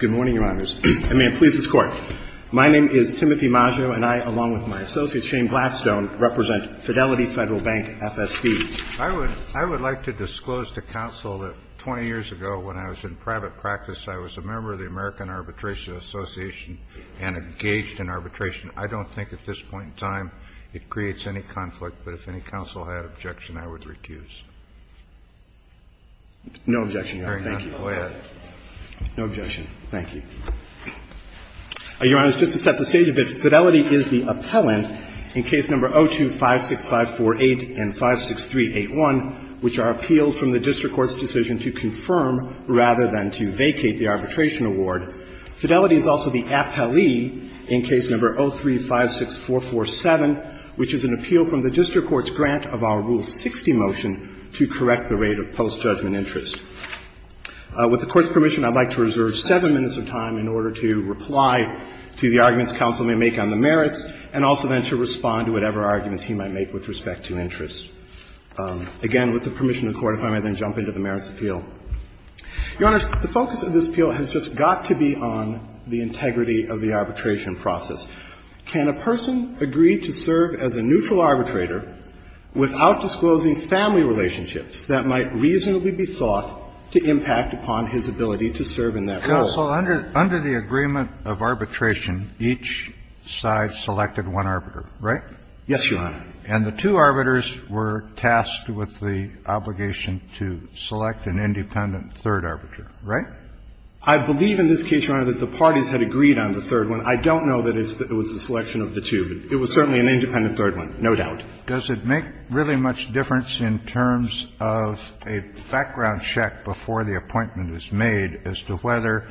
Good morning, Your Honors. I may please this Court. My name is Timothy Maggio, and I, along with my associate Shane Gladstone, represent Fidelity Federal Bank F.S.B. I would like to disclose to counsel that 20 years ago, when I was in private practice, I was a member of the American Arbitration Association and engaged in arbitration. I don't think at this point in time it creates any conflict, but if any counsel had objection, I would recuse. No objection, Your Honor. Thank you. Very good. Go ahead. No objection. Thank you. Your Honors, just to set the stage a bit, Fidelity is the appellant in Case No. 0256548 and 56381, which are appeals from the district court's decision to confirm rather than to vacate the arbitration award. Fidelity is also the appellee in Case No. 0356447, which is an appeal from the district court's grant of our Rule 60 motion to correct the rate of post-judgment interest. With the Court's permission, I would like to reserve seven minutes of time in order to reply to the arguments counsel may make on the merits and also then to respond to whatever arguments he might make with respect to interest. Again, with the permission of the Court, if I may then jump into the merits appeal. Your Honors, the focus of this appeal has just got to be on the integrity of the arbitration process. Can a person agree to serve as a neutral arbitrator without disclosing family relationships that might reasonably be thought to impact upon his ability to serve in that role? Counsel, under the agreement of arbitration, each side selected one arbiter, right? Yes, Your Honor. And the two arbiters were tasked with the obligation to select an independent third arbiter, right? I believe in this case, Your Honor, that the parties had agreed on the third one. I don't know that it was a selection of the two. It was certainly an independent third one, no doubt. Does it make really much difference in terms of a background check before the appointment is made as to whether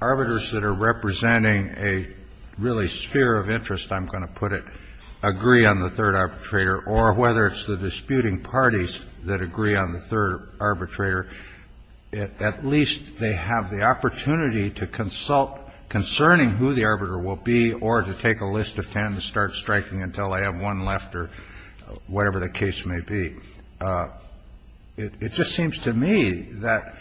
arbiters that are representing a really sphere of interest, I'm going to put it, agree on the third arbitrator, or whether it's the disputing parties that agree on the third arbitrator, at least they have the opportunity to consult concerning who the arbiter will be or to take a list of 10 to start striking until I have one left or whatever the case may be? It just seems to me that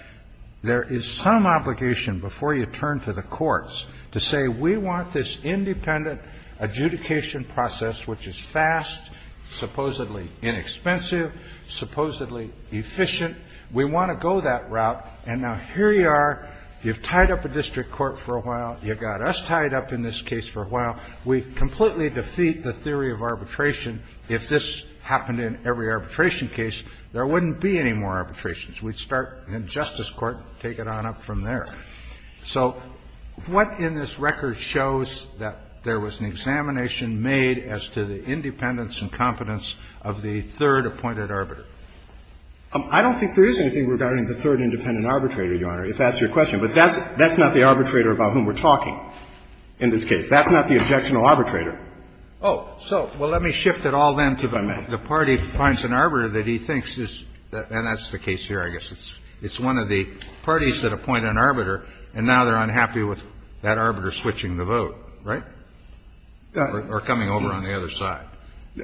there is some obligation before you turn to the courts to say we want this independent adjudication process, which is fast, supposedly inexpensive, supposedly efficient. We want to go that route. And now here you are. You've tied up a district court for a while. You've got us tied up in this case for a while. We completely defeat the theory of arbitration. If this happened in every arbitration case, there wouldn't be any more arbitrations. We'd start in justice court, take it on up from there. So what in this record shows that there was an examination made as to the independence and competence of the third appointed arbiter? I don't think there is anything regarding the third independent arbitrator, Your Honor, if that's your question. But that's not the arbitrator about whom we're talking in this case. That's not the objectionable arbitrator. Oh. So, well, let me shift it all then to the party finds an arbiter that he thinks is, and that's the case here, I guess. It's one of the parties that appoint an arbiter, and now they're unhappy with that arbiter switching the vote, right? Or coming over on the other side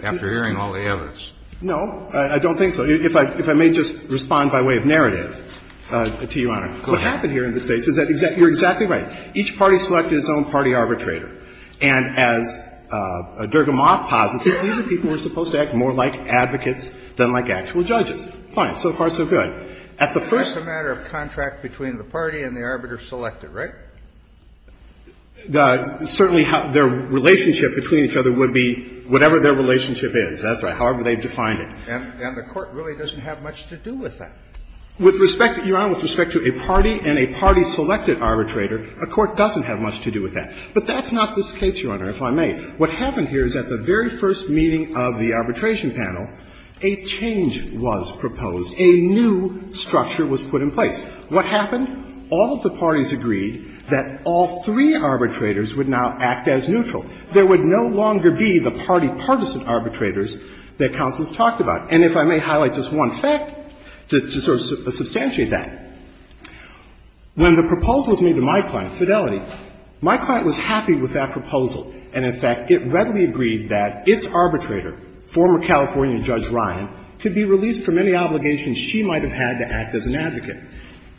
after hearing all the evidence. No. I don't think so. If I may just respond by way of narrative to you, Your Honor. Go ahead. What happened here in this case is that you're exactly right. Each party selected its own party arbitrator. And as Dergamoff posits, these are people who are supposed to act more like advocates than like actual judges. Fine. So far, so good. That's a matter of contract between the party and the arbiter selected, right? Certainly, their relationship between each other would be whatever their relationship is. That's right. However they've defined it. And the Court really doesn't have much to do with that. With respect, Your Honor, with respect to a party and a party-selected arbitrator, a court doesn't have much to do with that. But that's not this case, Your Honor, if I may. What happened here is at the very first meeting of the arbitration panel, a change was proposed. A new structure was put in place. What happened? All of the parties agreed that all three arbitrators would now act as neutral. There would no longer be the party-partisan arbitrators that counsels talked about. And if I may highlight just one fact to sort of substantiate that, when the proposal was made to my client, Fidelity, my client was happy with that proposal. And, in fact, it readily agreed that its arbitrator, former California Judge Ryan, could be released from any obligations she might have had to act as an advocate.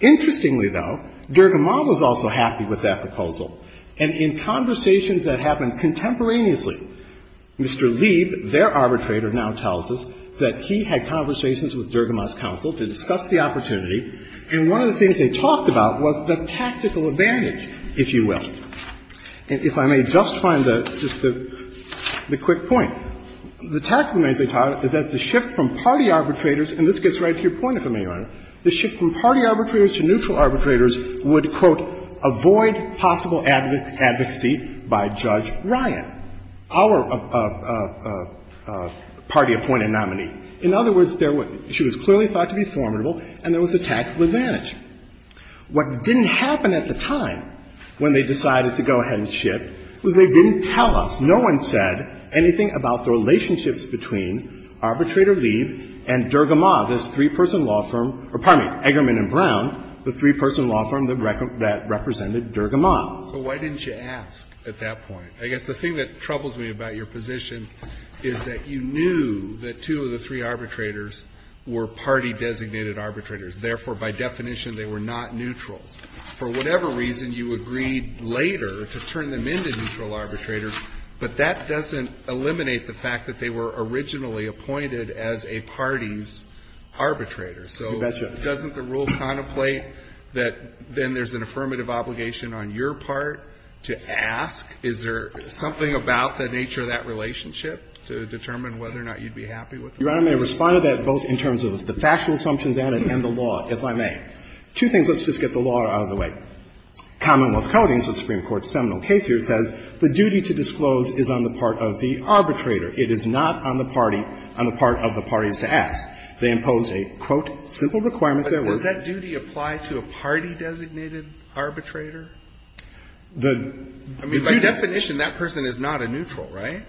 Interestingly, though, Dergamont was also happy with that proposal. And in conversations that happened contemporaneously, Mr. Lieb, their arbitrator, now tells us that he had conversations with Dergamont's counsel to discuss the opportunity, and one of the things they talked about was the tactical advantage, if you will. And if I may just find the quick point, the tactical advantage they talked about is that the shift from party arbitrators, and this gets right to your point, if I may, Your Honor, the shift from party arbitrators to neutral arbitrators would, quote, avoid possible advocacy by Judge Ryan, our party-appointed nominee. In other words, she was clearly thought to be formidable, and there was a tactical advantage. What didn't happen at the time, when they decided to go ahead and shift, was they didn't tell us. No one said anything about the relationships between Arbitrator Lieb and Dergamont, this three-person law firm or, pardon me, Eggerman and Brown, the three-person law firm that represented Dergamont. So why didn't you ask at that point? I guess the thing that troubles me about your position is that you knew that two of the three arbitrators were party-designated arbitrators. Therefore, by definition, they were not neutrals. For whatever reason, you agreed later to turn them into neutral arbitrators. But that doesn't eliminate the fact that they were originally appointed as a party's arbitrator. So doesn't the rule contemplate that then there's an affirmative obligation on your part to ask, is there something about the nature of that relationship to determine whether or not you'd be happy with them? You know, I may respond to that both in terms of the factual assumptions added and the law, if I may. Two things. Let's just get the law out of the way. Commonwealth Codings, a Supreme Court seminal case here, says the duty to disclose is on the part of the arbitrator. It is not on the party, on the part of the parties to ask. They impose a, quote, simple requirement. There was that duty applied to a party-designated arbitrator? I mean, by definition, that person is not a neutral, right?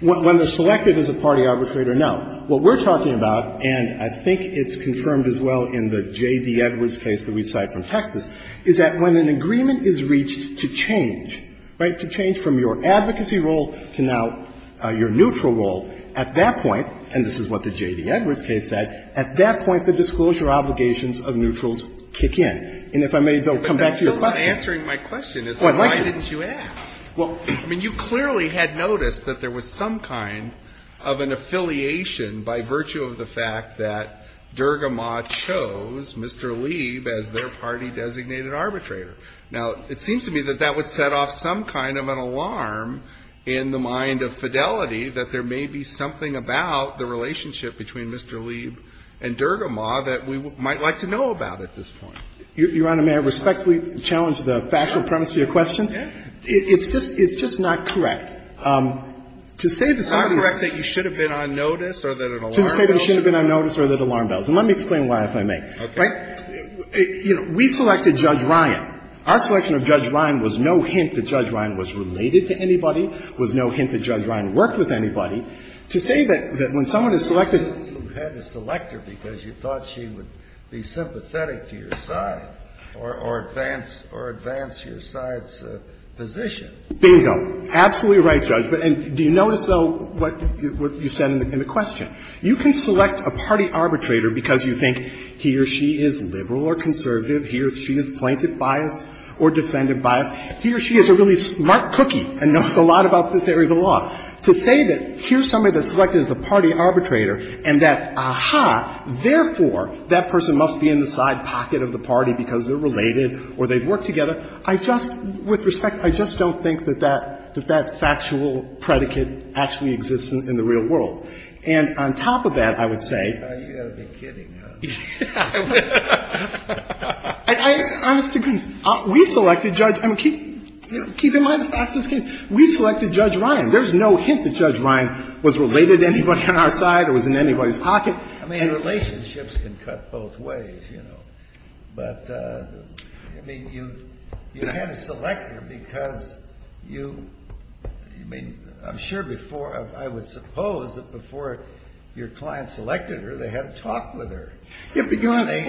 When they're selected as a party arbitrator, no. What we're talking about, and I think it's confirmed as well in the J.D. Edwards case that we cite from Texas, is that when an agreement is reached to change, right, to change from your advocacy role to now your neutral role, at that point and this is what the J.D. Edwards case said, at that point the disclosure obligations of neutrals kick in. And if I may, though, come back to your question. But that's still not answering my question, is why didn't you ask? Well, I mean, you clearly had noticed that there was some kind of an affiliation by virtue of the fact that Dergamaw chose Mr. Lieb as their party-designated arbitrator. Now, it seems to me that that would set off some kind of an alarm in the mind of fidelity that there may be something about the relationship between Mr. Lieb and Dergamaw that we might like to know about at this point. Your Honor, may I respectfully challenge the factual premise of your question? It's just, it's just not correct. To say that somebody's... It's not correct that you should have been on notice or that an alarm goes off? To say that I should have been on notice or that an alarm goes off. And let me explain why, if I may. Okay. Right? You know, we selected Judge Ryan. Our selection of Judge Ryan was no hint that Judge Ryan was related to anybody, was no hint that Judge Ryan worked with anybody. To say that when someone is selected... You had to select her because you thought she would be sympathetic to your side or advance your side's position. Bingo. Absolutely right, Judge. And do you notice, though, what you said in the question? You can select a party arbitrator because you think he or she is liberal or conservative, he or she is plaintiff biased or defendant biased. He or she is a really smart cookie and knows a lot about this area of the law. To say that here's somebody that's selected as a party arbitrator and that, aha, therefore, that person must be in the side pocket of the party because they're related or they've worked together, I just, with respect, I just don't think that that factual predicate actually exists in the real world. And on top of that, I would say... You've got to be kidding, huh? I honestly couldn't. We selected Judge – I mean, keep in mind the facts of the case. We selected Judge Ryan. There's no hint that Judge Ryan was related to anybody on our side or was in anybody's side. Relationships can cut both ways, you know. But, I mean, you had to select her because you – I mean, I'm sure before – I would suppose that before your client selected her, they had a talk with her. They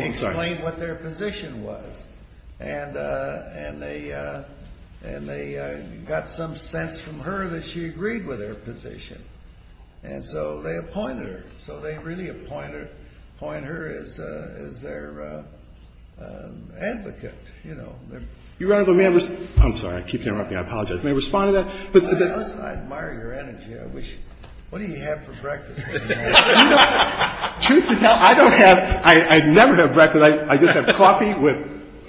explained what their position was. And they got some sense from her that she agreed with their position. And so they appointed her. So they really appoint her as their advocate, you know. Your Honor, let me – I'm sorry. I keep interrupting. I apologize. May I respond to that? I admire your energy. I wish – what do you have for breakfast? You know, truth to tell, I don't have – I never have breakfast. I just have coffee with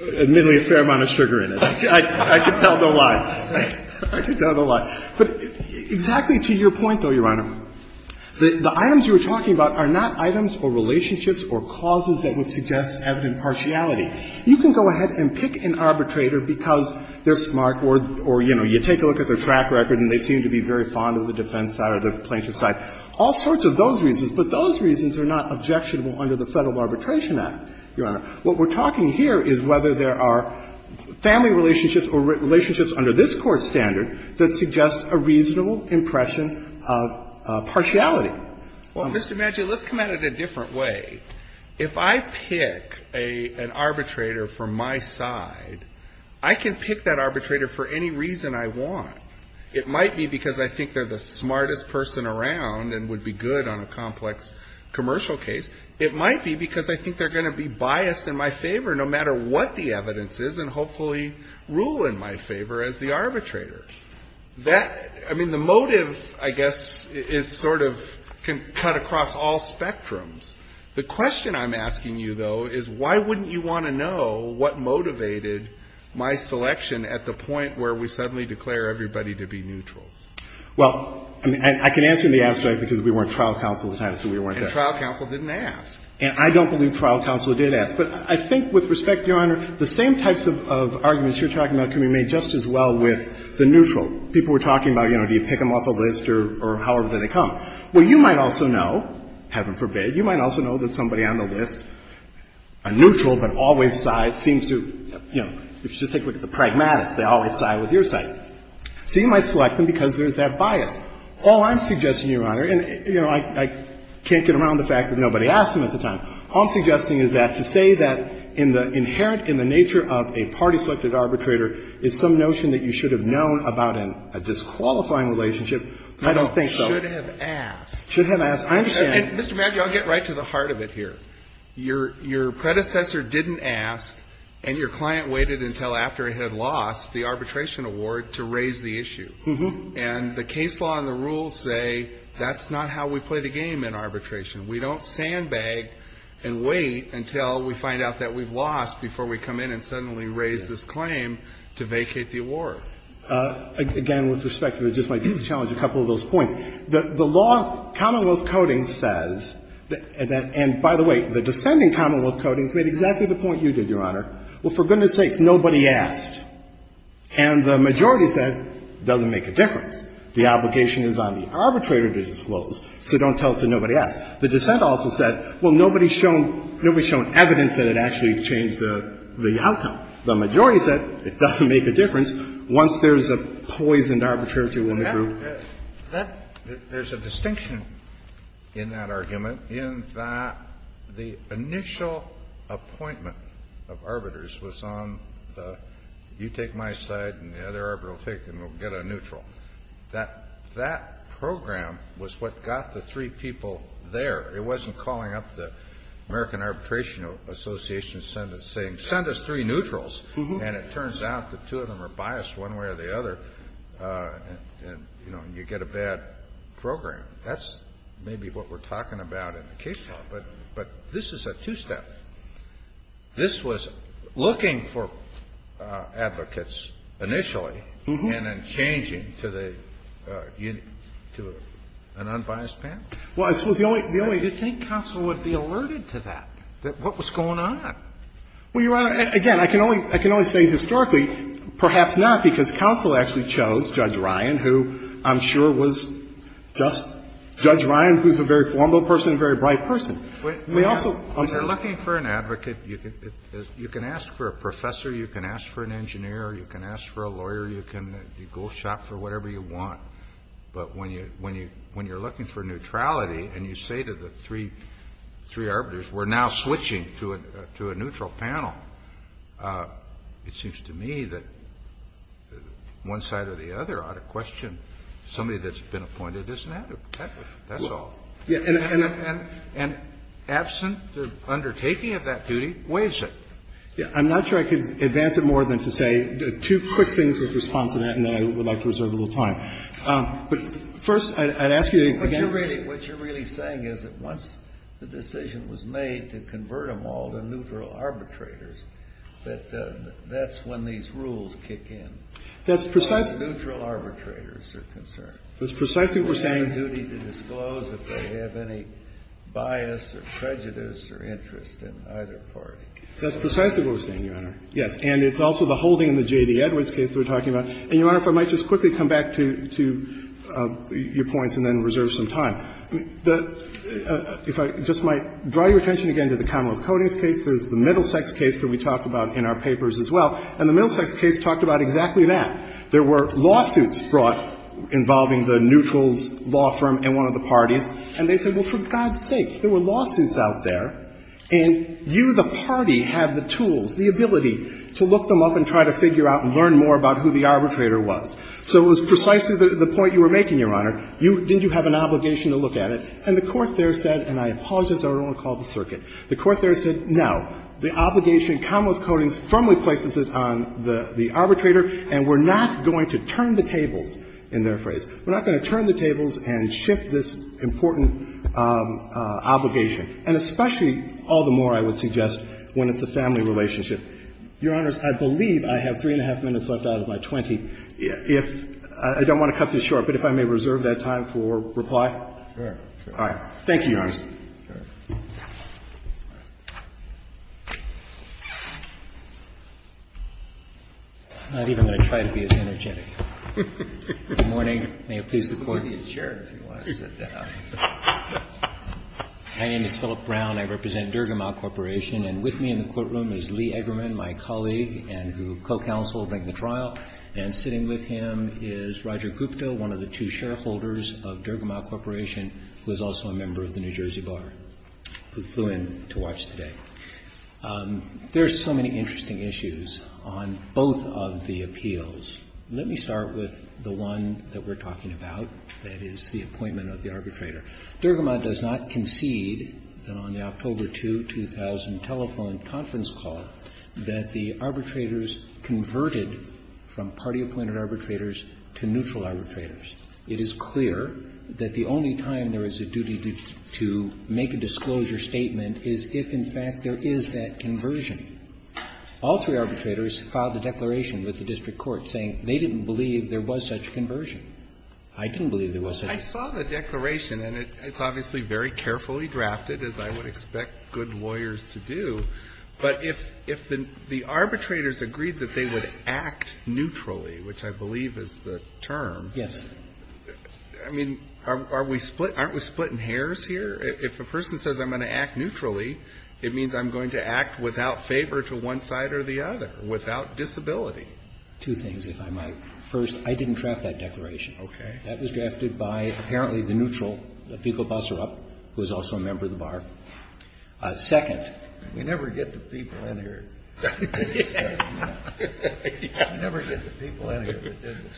admittedly a fair amount of sugar in it. I can tell no lie. I can tell no lie. But exactly to your point, though, Your Honor, the items you were talking about are not items or relationships or causes that would suggest evident partiality. You can go ahead and pick an arbitrator because they're smart or, you know, you take a look at their track record and they seem to be very fond of the defense side or the plaintiff's side, all sorts of those reasons. But those reasons are not objectionable under the Federal Arbitration Act, Your Honor. What we're talking here is whether there are family relationships or relationships under this Court's standard that suggest a reasonable impression of partiality. Well, Mr. Maggio, let's come at it a different way. If I pick an arbitrator from my side, I can pick that arbitrator for any reason I want. It might be because I think they're the smartest person around and would be good on a complex commercial case. It might be because I think they're going to be biased in my favor no matter what the evidence is and hopefully rule in my favor as the arbitrator. That, I mean, the motive, I guess, is sort of cut across all spectrums. The question I'm asking you, though, is why wouldn't you want to know what motivated my selection at the point where we suddenly declare everybody to be neutral? Well, I mean, I can answer in the abstract because we weren't trial counsel at the time, so we weren't there. And trial counsel didn't ask. And I don't believe trial counsel did ask. But I think with respect, Your Honor, the same types of arguments you're talking about can be made just as well with the neutral. People were talking about, you know, do you pick them off a list or however they come. Well, you might also know, heaven forbid, you might also know that somebody on the list, a neutral but always sides, seems to, you know, if you just take a look at the pragmatists, they always side with your side. So you might select them because there's that bias. All I'm suggesting, Your Honor, and, you know, I can't get around the fact that nobody asked them at the time. All I'm suggesting is that to say that in the inherent, in the nature of a party-selected arbitrator is some notion that you should have known about in a disqualifying relationship, I don't think so. Should have asked. Should have asked. I understand. And, Mr. Maddrey, I'll get right to the heart of it here. Your predecessor didn't ask, and your client waited until after it had lost the arbitration award to raise the issue. And the case law and the rules say that's not how we play the game in arbitration. We don't sandbag and wait until we find out that we've lost before we come in and suddenly raise this claim to vacate the award. Again, with respect, it just might be a challenge, a couple of those points. The law, Commonwealth Codings says, and by the way, the descending Commonwealth Codings made exactly the point you did, Your Honor. Well, for goodness sakes, nobody asked. And the majority said it doesn't make a difference. The obligation is on the arbitrator to disclose, so don't tell us that nobody asked. The dissent also said, well, nobody's shown evidence that it actually changed the outcome. The majority said it doesn't make a difference. Once there's a poisoned arbitrator in the group. There's a distinction in that argument in that the initial appointment of arbiters was on the you take my side and the other arbiter will take and we'll get a neutral. That program was what got the three people there. It wasn't calling up the American Arbitration Association and saying send us three neutrals. And it turns out the two of them are biased one way or the other and you get a bad program. That's maybe what we're talking about in the case law. But this is a two-step. So you're saying that this was looking for advocates initially and then changing to the unit, to an unbiased panel? Well, it was the only, the only. Do you think counsel would be alerted to that, that what was going on? Well, Your Honor, again, I can only, I can only say historically perhaps not because counsel actually chose Judge Ryan, who I'm sure was just Judge Ryan, who's a very formal person, a very bright person. We also, I'm sorry. If you're looking for an advocate, you can ask for a professor, you can ask for an engineer, you can ask for a lawyer, you can go shop for whatever you want. But when you're looking for neutrality and you say to the three arbiters, we're now switching to a neutral panel, it seems to me that one side or the other ought to question somebody that's been appointed as an advocate. That's all. And absent the undertaking of that duty weighs it. Yeah. I'm not sure I could advance it more than to say two quick things in response to that, and then I would like to reserve a little time. But first, I'd ask you again. But you're really, what you're really saying is that once the decision was made to convert them all to neutral arbitrators, that that's when these rules kick in. That's precisely. As far as neutral arbitrators are concerned. That's precisely what we're saying. It's their duty to disclose if they have any bias or prejudice or interest in either party. That's precisely what we're saying, Your Honor. Yes. And it's also the whole thing in the J.D. Edwards case we're talking about. And, Your Honor, if I might just quickly come back to your points and then reserve some time. If I just might draw your attention again to the Commonwealth Codings case. There's the Middlesex case that we talked about in our papers as well. And the Middlesex case talked about exactly that. There were lawsuits brought involving the neutrals law firm and one of the parties. And they said, well, for God's sakes, there were lawsuits out there. And you, the party, have the tools, the ability to look them up and try to figure out and learn more about who the arbitrator was. So it was precisely the point you were making, Your Honor. You didn't have an obligation to look at it. And the Court there said, and I apologize, I don't want to call it the circuit. The Court there said, no, the obligation in Commonwealth Codings firmly places it on the arbitrator, and we're not going to turn the tables, in their phrase. We're not going to turn the tables and shift this important obligation, and especially all the more, I would suggest, when it's a family relationship. Your Honors, I believe I have three and a half minutes left out of my 20. If – I don't want to cut this short, but if I may reserve that time for reply. All right. Thank you, Your Honors. I'm not even going to try to be as energetic. Good morning. May it please the Court. My name is Philip Brown. I represent Dergamau Corporation. And with me in the courtroom is Lee Eggerman, my colleague and who co-counseled during the trial. And sitting with him is Roger Gupta, one of the two shareholders of Dergamau Corporation, who is also a member of the New Jersey Bar, who flew in to watch today. There are so many interesting issues on both of the appeals. Let me start with the one that we're talking about, that is the appointment of the arbitrator. Dergamau does not concede that on the October 2, 2000 telephone conference call, that the arbitrators converted from party-appointed arbitrators to neutral arbitrators. It is clear that the only time there is a duty to make a disclosure statement is if, in fact, there is that conversion. All three arbitrators filed a declaration with the district court saying they didn't believe there was such a conversion. I didn't believe there was such a conversion. I saw the declaration, and it's obviously very carefully drafted, as I would expect good lawyers to do. But if the arbitrators agreed that they would act neutrally, which I believe is the term, I mean, aren't we splitting hairs here? If a person says I'm going to act neutrally, it means I'm going to act without favor to one side or the other, without disability. Two things, if I might. First, I didn't draft that declaration. Okay. That was drafted by, apparently, the neutral, Viggo Busserup, who is also a member of the Bar. Second. We never get the people in here that did this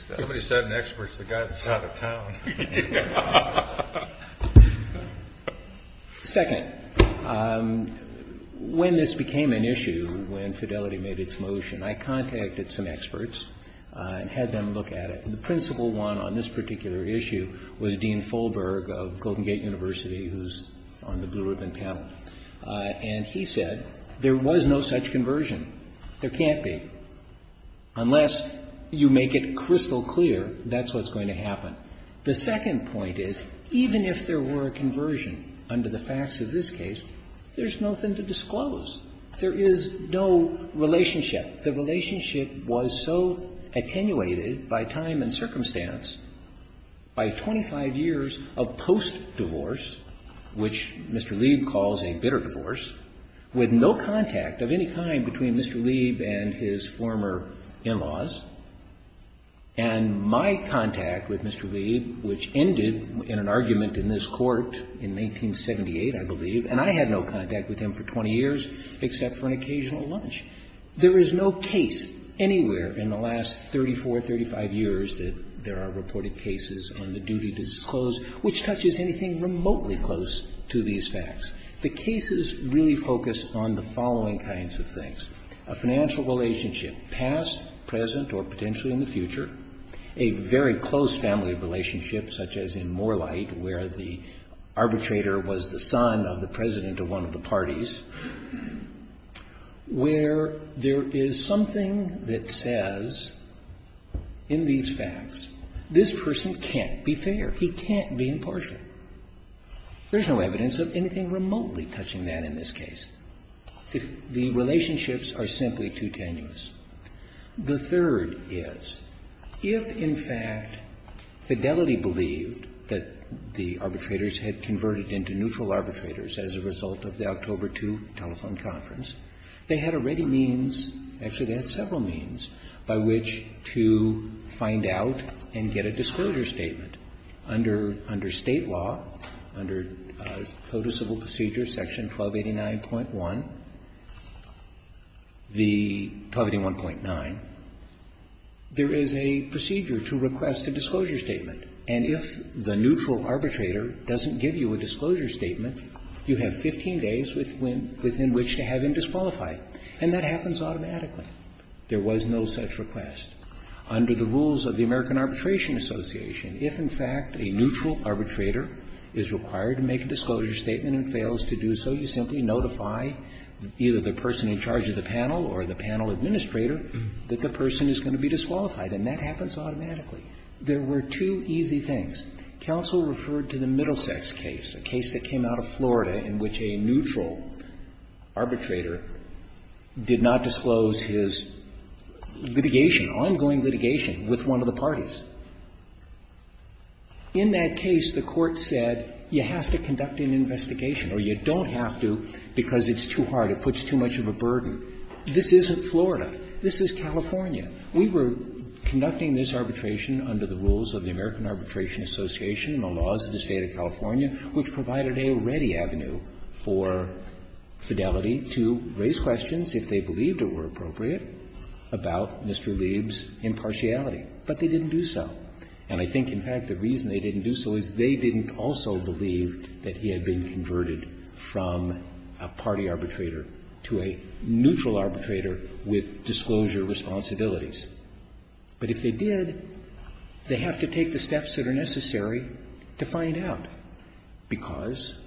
stuff. Somebody said an expert is the guy that's out of town. Second. When this became an issue, when Fidelity made its motion, I contacted some experts and had them look at it. And the principal one on this particular issue was Dean Folberg of Golden Gate University, who's on the blue ribbon panel. And he said there was no such conversion. There can't be. Unless you make it crystal clear that's what's going to happen. The second point is, even if there were a conversion under the facts of this case, there's nothing to disclose. There is no relationship. The relationship was so attenuated by time and circumstance, by 25 years of post-divorce, which Mr. Lieb calls a bitter divorce, with no contact of any kind between Mr. Lieb and his former in-laws. And my contact with Mr. Lieb, which ended in an argument in this court in 1978, I believe, and I had no contact with him for 20 years except for an occasional lunch. There is no case anywhere in the last 34, 35 years that there are reported cases on the duty to disclose which touches anything remotely close to these facts. The cases really focus on the following kinds of things. A financial relationship, past, present, or potentially in the future. A very close family relationship, such as in Morlite, where the arbitrator was the son of the president of one of the parties, where there is something that says in these facts, this person can't be fair. He can't be impartial. There's no evidence of anything remotely touching that in this case. The relationships are simply too tenuous. The third is, if, in fact, Fidelity believed that the arbitrators had converted into neutral arbitrators as a result of the October 2 telephone conference, they had already means, actually they had several means, by which to find out and get a disclosure statement under State law, under Code of Civil Procedure, Section 1289.1, the 1281.9, there is a procedure to request a disclosure statement, and if the neutral arbitrator doesn't give you a disclosure statement, you have 15 days within which to have him disqualify. And that happens automatically. There was no such request. Under the rules of the American Arbitration Association, if, in fact, a neutral arbitrator doesn't give you a disclosure statement and fails to do so, you simply notify either the person in charge of the panel or the panel administrator that the person is going to be disqualified, and that happens automatically. There were two easy things. Counsel referred to the Middlesex case, a case that came out of Florida in which a neutral arbitrator did not disclose his litigation, ongoing litigation, with one of the parties. In that case, the Court said you have to conduct an investigation, or you don't have to because it's too hard, it puts too much of a burden. This isn't Florida. This is California. We were conducting this arbitration under the rules of the American Arbitration Association and the laws of the State of California, which provided a ready avenue for Fidelity to raise questions, if they believed it were appropriate, about Mr. Lieb's impartiality. But they didn't do so. And I think, in fact, the reason they didn't do so is they didn't also believe that he had been converted from a party arbitrator to a neutral arbitrator with disclosure responsibilities. But if they did, they have to take the steps that are necessary to find out, because,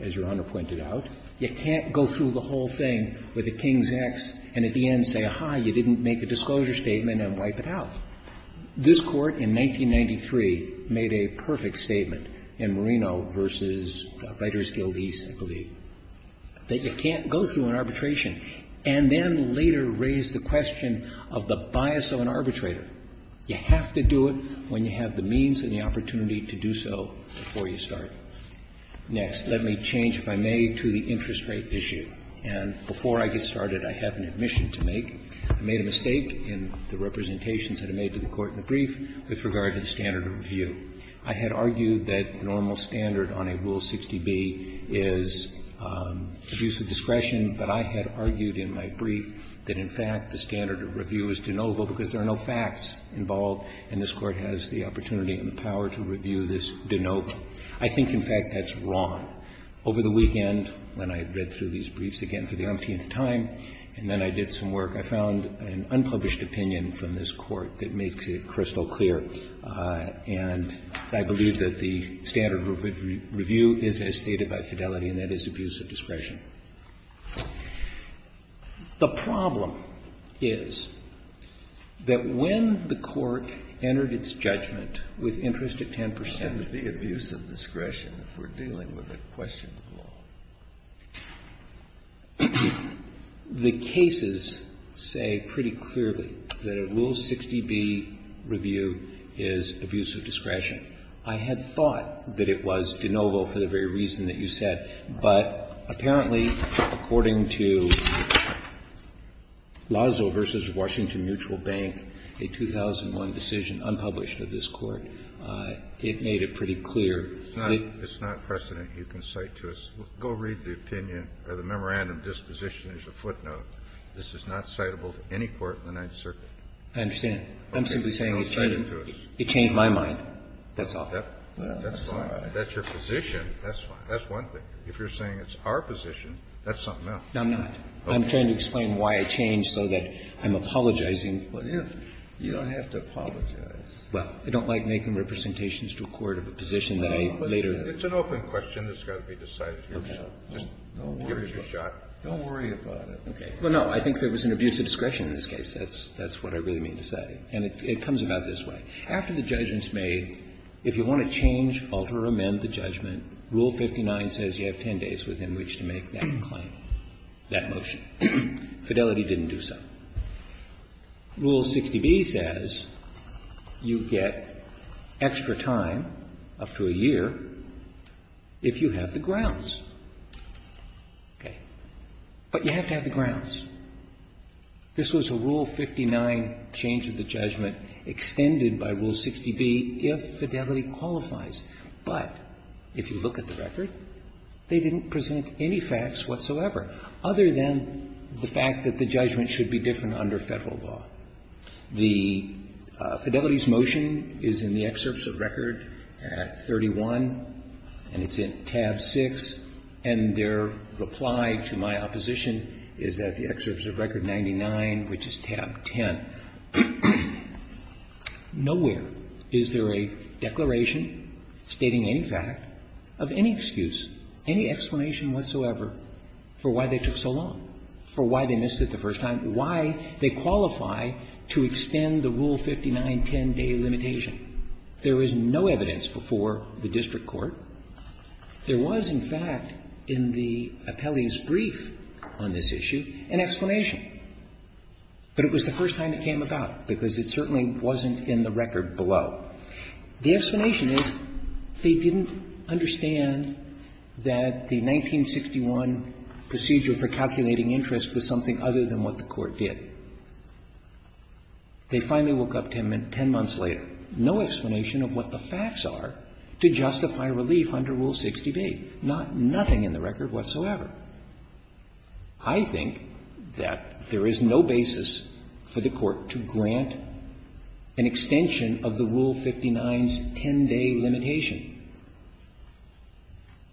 as Your Honor pointed out, you can't go through the whole thing with a King's X and at the end say, aha, you didn't make a disclosure statement and wipe it out. This Court, in 1993, made a perfect statement in Marino v. Writers Guild East, I believe, that you can't go through an arbitration and then later raise the question of the bias of an arbitrator. You have to do it when you have the means and the opportunity to do so before you start. Next, let me change, if I may, to the interest rate issue. And before I get started, I have an admission to make. I made a mistake in the representations that I made to the Court in the brief with regard to the standard of review. I had argued that the normal standard on a Rule 60b is abuse of discretion, but I had argued in my brief that, in fact, the standard of review is de novo because there are no facts involved and this Court has the opportunity and the power to review this de novo. I think, in fact, that's wrong. Over the weekend, when I read through these briefs again for the umpteenth time, and then I did some work, I found an unpublished opinion from this Court that makes it crystal clear. And I believe that the standard of review is as stated by Fidelity, and that is abuse of discretion. The problem is that when the Court entered its judgment with interest at 10 percent The cases say pretty clearly that a Rule 60b review is abuse of discretion. I had thought that it was de novo for the very reason that you said. But apparently, according to Lazo v. Washington Mutual Bank, a 2001 decision unpublished of this Court, it made it pretty clear. It's not precedent. You can cite to us. Go read the opinion or the memorandum disposition as a footnote. This is not citable to any court in the Ninth Circuit. I understand. I'm simply saying it changed my mind. That's all. That's fine. That's your position. That's fine. That's one thing. If you're saying it's our position, that's something else. No, I'm not. I'm trying to explain why it changed so that I'm apologizing. Well, you don't have to apologize. Well, I don't like making representations to a court of a position that I later It's an open question. It's got to be decided. Just give it a shot. Don't worry about it. Okay. Well, no, I think there was an abuse of discretion in this case. That's what I really mean to say. And it comes about this way. After the judgment's made, if you want to change, alter or amend the judgment, Rule 59 says you have 10 days within which to make that claim, that motion. Fidelity didn't do so. Rule 60b says you get extra time, up to a year, if you have the grounds. Okay. But you have to have the grounds. This was a Rule 59 change of the judgment extended by Rule 60b if fidelity qualifies. But if you look at the record, they didn't present any facts whatsoever, other than the fact that the judgment should be different under Federal law. The Fidelity's motion is in the excerpts of record at 31, and it's in tab 6. And their reply to my opposition is at the excerpts of record 99, which is tab 10. Nowhere is there a declaration stating any fact of any excuse, any explanation whatsoever for why they took so long. For why they missed it the first time. Why they qualify to extend the Rule 59 10-day limitation. There is no evidence before the district court. There was, in fact, in the appellee's brief on this issue, an explanation. But it was the first time it came about, because it certainly wasn't in the record below. The explanation is they didn't understand that the 1961 procedure for calculating interest was something other than what the Court did. They finally woke up 10 months later. No explanation of what the facts are to justify relief under Rule 60b. Nothing in the record whatsoever. I think that there is no basis for the Court to grant an extension of the Rule 59 10-day limitation.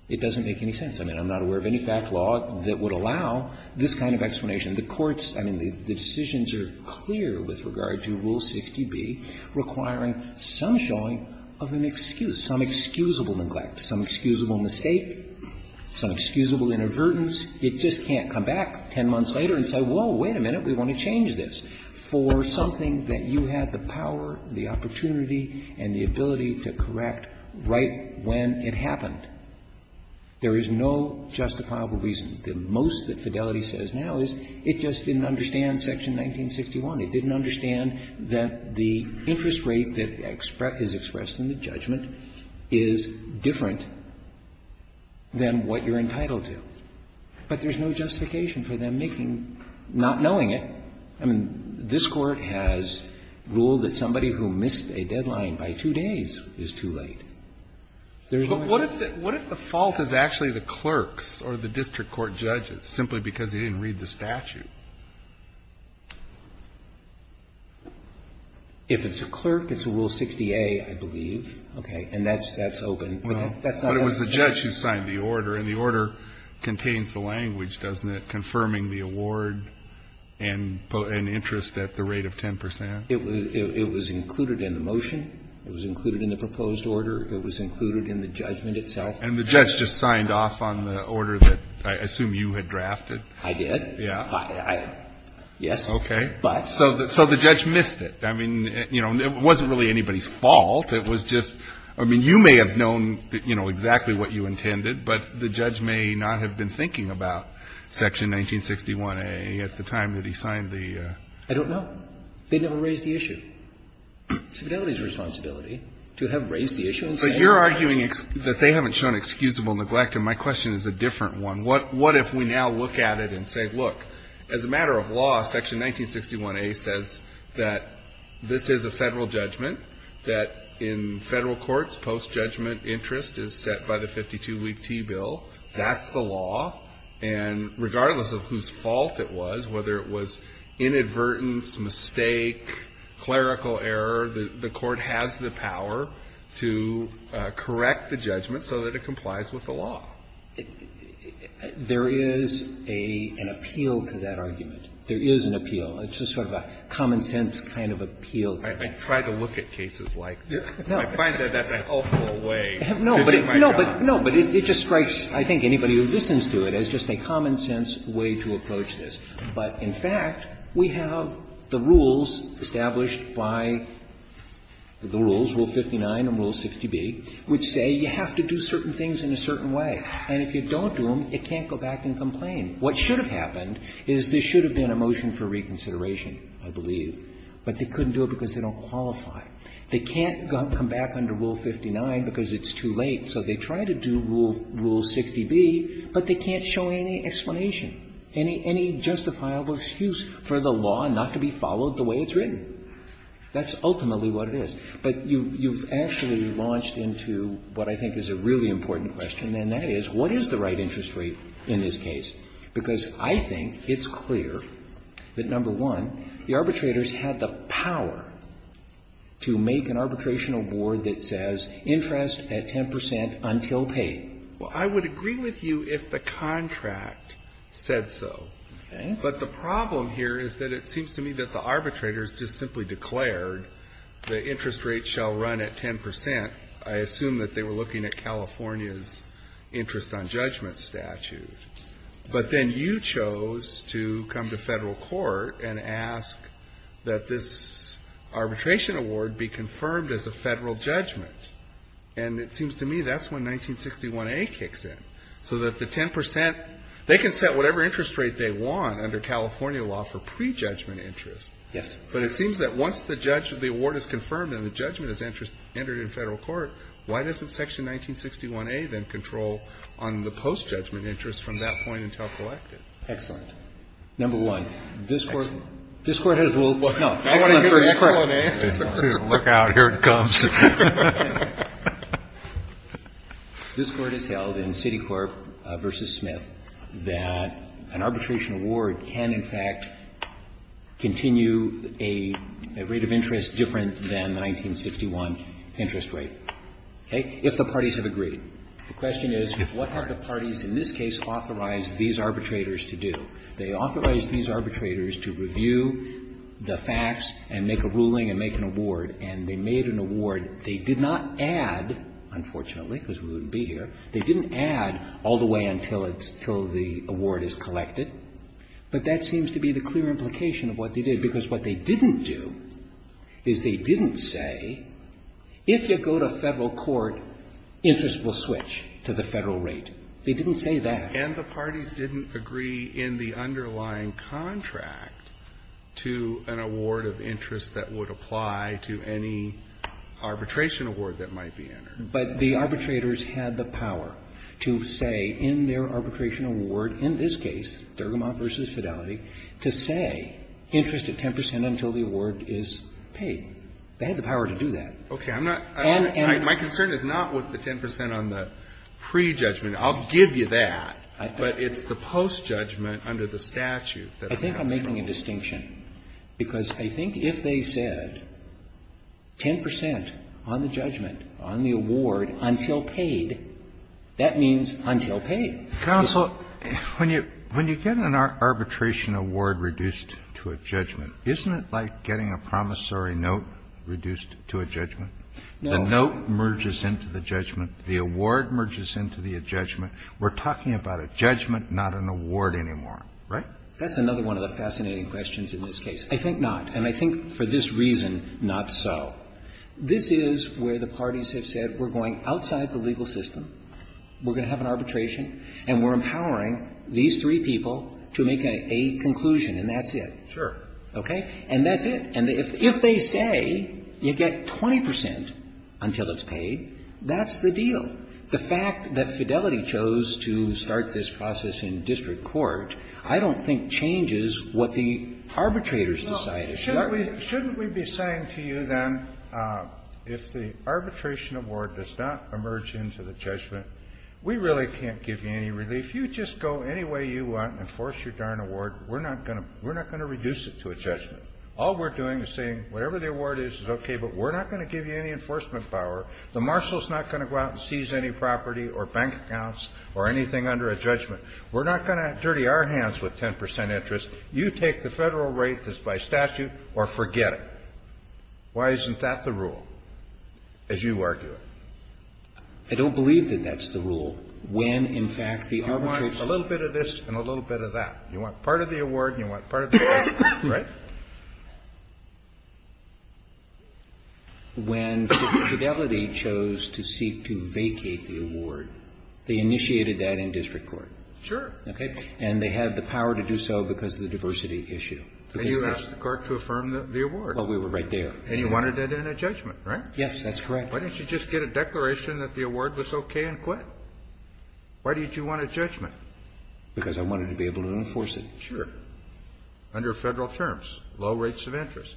It doesn't make any sense. I mean, I'm not aware of any fact law that would allow this kind of explanation. The courts, I mean, the decisions are clear with regard to Rule 60b requiring some showing of an excuse, some excusable neglect, some excusable mistake, some excusable inadvertence. It just can't come back 10 months later and say, whoa, wait a minute, we want to change this for something that you had the power, the opportunity, and the ability to correct right when it happened. There is no justifiable reason. The most that Fidelity says now is it just didn't understand Section 1961. It didn't understand that the interest rate that is expressed in the judgment is different than what you're entitled to. But there's no justification for them making, not knowing it. I mean, this Court has ruled that somebody who missed a deadline by two days is too late. There is no excuse. But what if the fault is actually the clerks or the district court judges, simply because they didn't read the statute? If it's a clerk, it's a Rule 60a, I believe. Okay. And that's open. But it was the judge who signed the order, and the order contains the language, doesn't it, confirming the award and interest at the rate of 10 percent? It was included in the motion. It was included in the proposed order. It was included in the judgment itself. And the judge just signed off on the order that I assume you had drafted? I did. Yes. Okay. So the judge missed it. I mean, you know, it wasn't really anybody's fault. It was just, I mean, you may have known, you know, exactly what you intended, but the judge may not have been thinking about Section 1961a at the time that he signed the order. I don't know. They never raised the issue. It's Fidelity's responsibility to have raised the issue. But you're arguing that they haven't shown excusable neglect. And my question is a different one. What if we now look at it and say, look, as a matter of law, Section 1961a says that this is a Federal judgment, that in Federal courts, post-judgment interest is set by the 52-week T bill, that's the law, and regardless of whose fault it was, whether it was inadvertence, mistake, clerical error, the Court has the power to correct the judgment so that it complies with the law? There is an appeal to that argument. There is an appeal. It's just sort of a common-sense kind of appeal to that. I've tried to look at cases like this. I find that that's an awful way to do my job. No, but it just strikes, I think, anybody who listens to it as just a common-sense way to approach this. But in fact, we have the rules established by the rules, Rule 59 and Rule 60b, which say you have to do certain things in a certain way. And if you don't do them, it can't go back and complain. What should have happened is there should have been a motion for reconsideration, I believe, but they couldn't do it because they don't qualify. They can't come back under Rule 59 because it's too late. So they try to do Rule 60b, but they can't show any explanation, any justifiable excuse for the law not to be followed the way it's written. That's ultimately what it is. But you've actually launched into what I think is a really important question, and that is, what is the right interest rate in this case? Because I think it's clear that, number one, the arbitrators had the power to make an arbitration award that says interest at 10 percent until paid. Well, I would agree with you if the contract said so. Okay. But the problem here is that it seems to me that the arbitrators just simply declared the interest rate shall run at 10 percent. I assume that they were looking at California's interest on judgment statute. But then you chose to come to Federal court and ask that this arbitration award be confirmed as a Federal judgment. And it seems to me that's when 1961a kicks in, so that the 10 percent, they can set whatever interest rate they want under California law for prejudgment interest. Yes. But it seems that once the award is confirmed and the judgment is entered in Federal court, why doesn't section 1961a then control on the post-judgment interest from that point until collected? Excellent. Number one, this Court has ruled no. I want to get an excellent answer. Look out. Here it comes. This Court has held in Citicorp v. Smith that an arbitration award can, in fact, continue a rate of interest different than the 1961 interest rate, okay, if the parties have agreed. The question is, what have the parties in this case authorized these arbitrators to do? They authorized these arbitrators to review the facts and make a ruling and make an award, and they made an award. They did not add, unfortunately, because we wouldn't be here. They didn't add all the way until the award is collected. But that seems to be the clear implication of what they did, because what they didn't do is they didn't say, if you go to Federal court, interest will switch to the Federal rate. They didn't say that. And the parties didn't agree in the underlying contract to an award of interest that would apply to any arbitration award that might be entered. But the arbitrators had the power to say in their arbitration award, in this case, Dergamont v. Fidelity, to say interest at 10 percent until the award is paid. They had the power to do that. And my concern is not with the 10 percent on the prejudgment. I'll give you that. But it's the postjudgment under the statute that I'm having trouble with. I think I'm making a distinction, because I think if they said 10 percent on the judgment, on the award, until paid, that means until paid. Kennedy, when you get an arbitration award reduced to a judgment, isn't it like getting a promissory note reduced to a judgment? No. The note merges into the judgment. The award merges into the judgment. We're talking about a judgment, not an award anymore, right? That's another one of the fascinating questions in this case. I think not. And I think for this reason, not so. This is where the parties have said, we're going outside the legal system, we're going to have an arbitration, and we're empowering these three people to make a conclusion, and that's it. Sure. Okay? And that's it. And if they say you get 20 percent until it's paid, that's the deal. The fact that Fidelity chose to start this process in district court I don't think changes what the arbitrators decided. Shouldn't we be saying to you, then, if the arbitration award does not emerge into the judgment, we really can't give you any relief. You just go any way you want and enforce your darn award. We're not going to reduce it to a judgment. All we're doing is saying whatever the award is is okay, but we're not going to give you any enforcement power. The marshal is not going to go out and seize any property or bank accounts or anything under a judgment. We're not going to dirty our hands with 10 percent interest. You take the Federal rate that's by statute or forget it. Why isn't that the rule, as you argue it? I don't believe that that's the rule. When, in fact, the arbitrators ---- You want a little bit of this and a little bit of that. You want part of the award and you want part of the benefit. Right? When Fidelity chose to seek to vacate the award, they initiated that in district court. Okay? And they had the power to do so because of the diversity issue. And you asked the court to affirm the award. Well, we were right there. And you wanted it in a judgment, right? Yes, that's correct. Why didn't you just get a declaration that the award was okay and quit? Why did you want a judgment? Because I wanted to be able to enforce it. Sure. Under Federal terms, low rates of interest.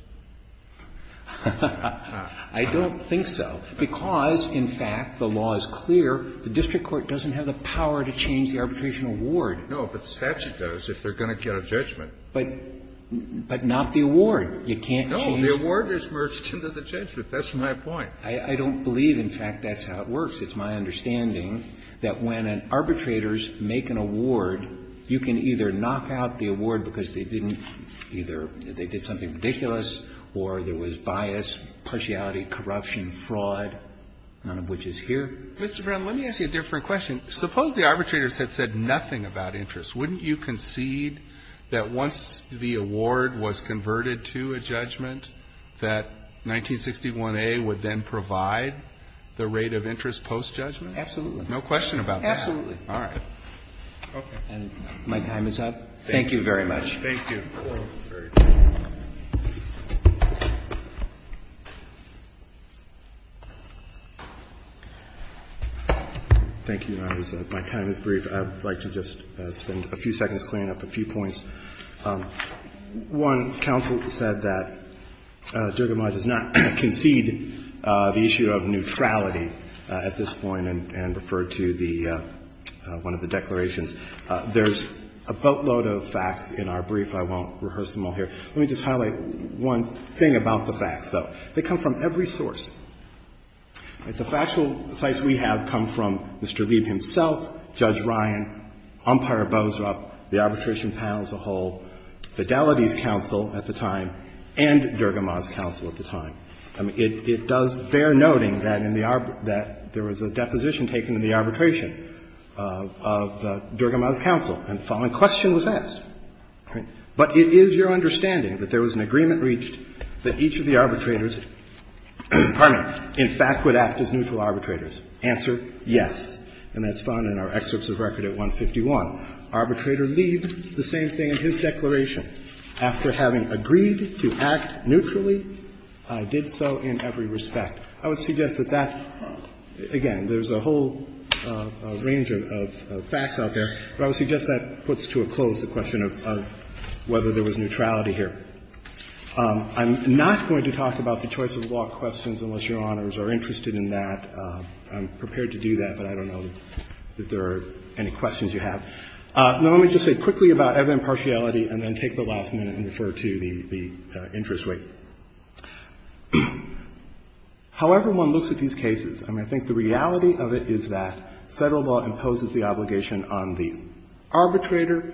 I don't think so, because, in fact, the law is clear. The district court doesn't have the power to change the arbitration award. No, but the statute does if they're going to get a judgment. But not the award. You can't change the award. No, the award is merged into the judgment. That's my point. I don't believe, in fact, that's how it works. It's my understanding that when arbitrators make an award, you can either knock out the award because they didn't either ---- they did something ridiculous or there was bias, partiality, corruption, fraud, none of which is here. Mr. Brown, let me ask you a different question. Suppose the arbitrators had said nothing about interest. Wouldn't you concede that once the award was converted to a judgment, that 1961A would then provide the rate of interest post-judgment? Absolutely. No question about that? Absolutely. All right. Okay. And my time is up. Thank you very much. Thank you. Thank you. Thank you. My time is brief. I'd like to just spend a few seconds cleaning up a few points. One, counsel said that Dergamont does not concede the issue of neutrality at this point and referred to the one of the declarations. There's a boatload of facts in our brief. I won't rehearse them all here. Let me just highlight one thing about the facts, though. They come from every source. The factual sites we have come from Mr. Lieb himself, Judge Ryan, Umpire Boesrup, the arbitration panel as a whole, Fidelity's counsel at the time, and Dergamont's counsel at the time. It does bear noting that in the arbitration ---- that there was a deposition taken in the arbitration of Dergamont's counsel, and the following question was asked. But it is your understanding that there was an agreement reached that each of the arbitrators ---- pardon me ---- in fact would act as neutral arbitrators? Answer, yes. And that's found in our excerpts of record at 151. Arbitrator leaves the same thing in his declaration. After having agreed to act neutrally, I did so in every respect. I would suggest that that ---- again, there's a whole range of facts out there, but I would suggest that puts to a close the question of whether there was neutrality here. I'm not going to talk about the choice of law questions unless Your Honors are interested in that. I'm prepared to do that, but I don't know that there are any questions you have. Now, let me just say quickly about evident partiality and then take the last minute and refer to the interest rate. However one looks at these cases, I mean, I think the reality of it is that Federal law imposes the obligation on the arbitrator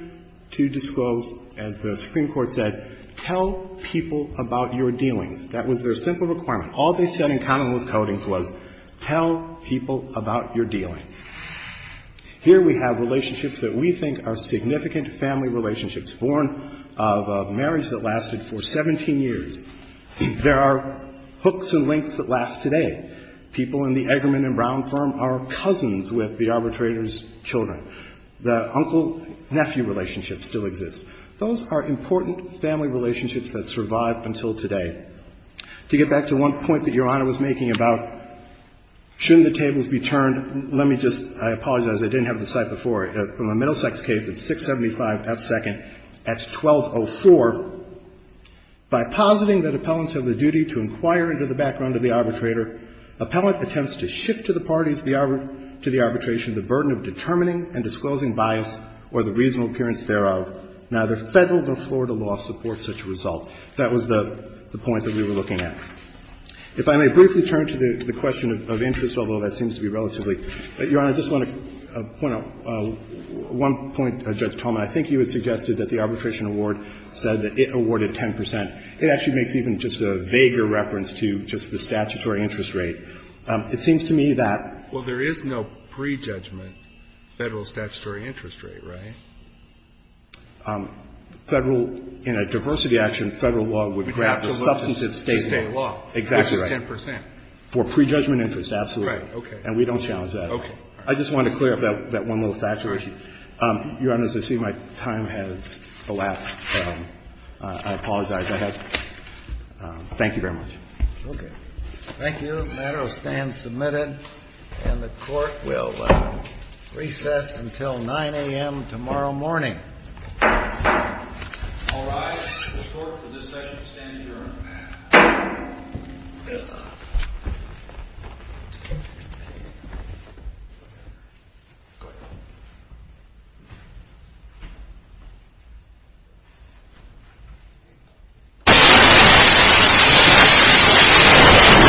to disclose, as the Supreme Court said, tell people about your dealings. That was their simple requirement. All they said in common with Codings was tell people about your dealings. Here we have relationships that we think are significant family relationships, born of a marriage that lasted for 17 years. There are hooks and links that last today. People in the Eggerman and Brown firm are cousins with the arbitrator's children. The uncle-nephew relationship still exists. Those are important family relationships that survive until today. To get back to one point that Your Honor was making about shouldn't the tables be turned, let me just, I apologize, I didn't have the cite before. From a Middlesex case, it's 675 F. Second at 1204. By positing that appellants have the duty to inquire into the background of the arbitrator appellant attempts to shift to the parties to the arbitration the burden of determining and disclosing bias or the reasonable appearance thereof. Neither Federal nor Florida law supports such a result. That was the point that we were looking at. If I may briefly turn to the question of interest, although that seems to be relatively Your Honor, I just want to point out one point Judge Tolman, I think you had suggested that the arbitration award said that it awarded 10 percent. It actually makes even just a vaguer reference to just the statutory interest rate. It seems to me that. Well, there is no prejudgment Federal statutory interest rate, right? Federal, in a diversity action, Federal law would graph a substantive statement. To state law. Exactly right. Which is 10 percent. For prejudgment interest, absolutely. Right. Okay. And we don't challenge that. Okay. I just wanted to clear up that one little factor issue. Your Honor, as I see my time has elapsed, I apologize. Thank you very much. Okay. Thank you. The matter will stand submitted, and the Court will recess until 9 a.m. tomorrow morning. All rise. The Court for this session stands adjourned. Thank you, Your Honor.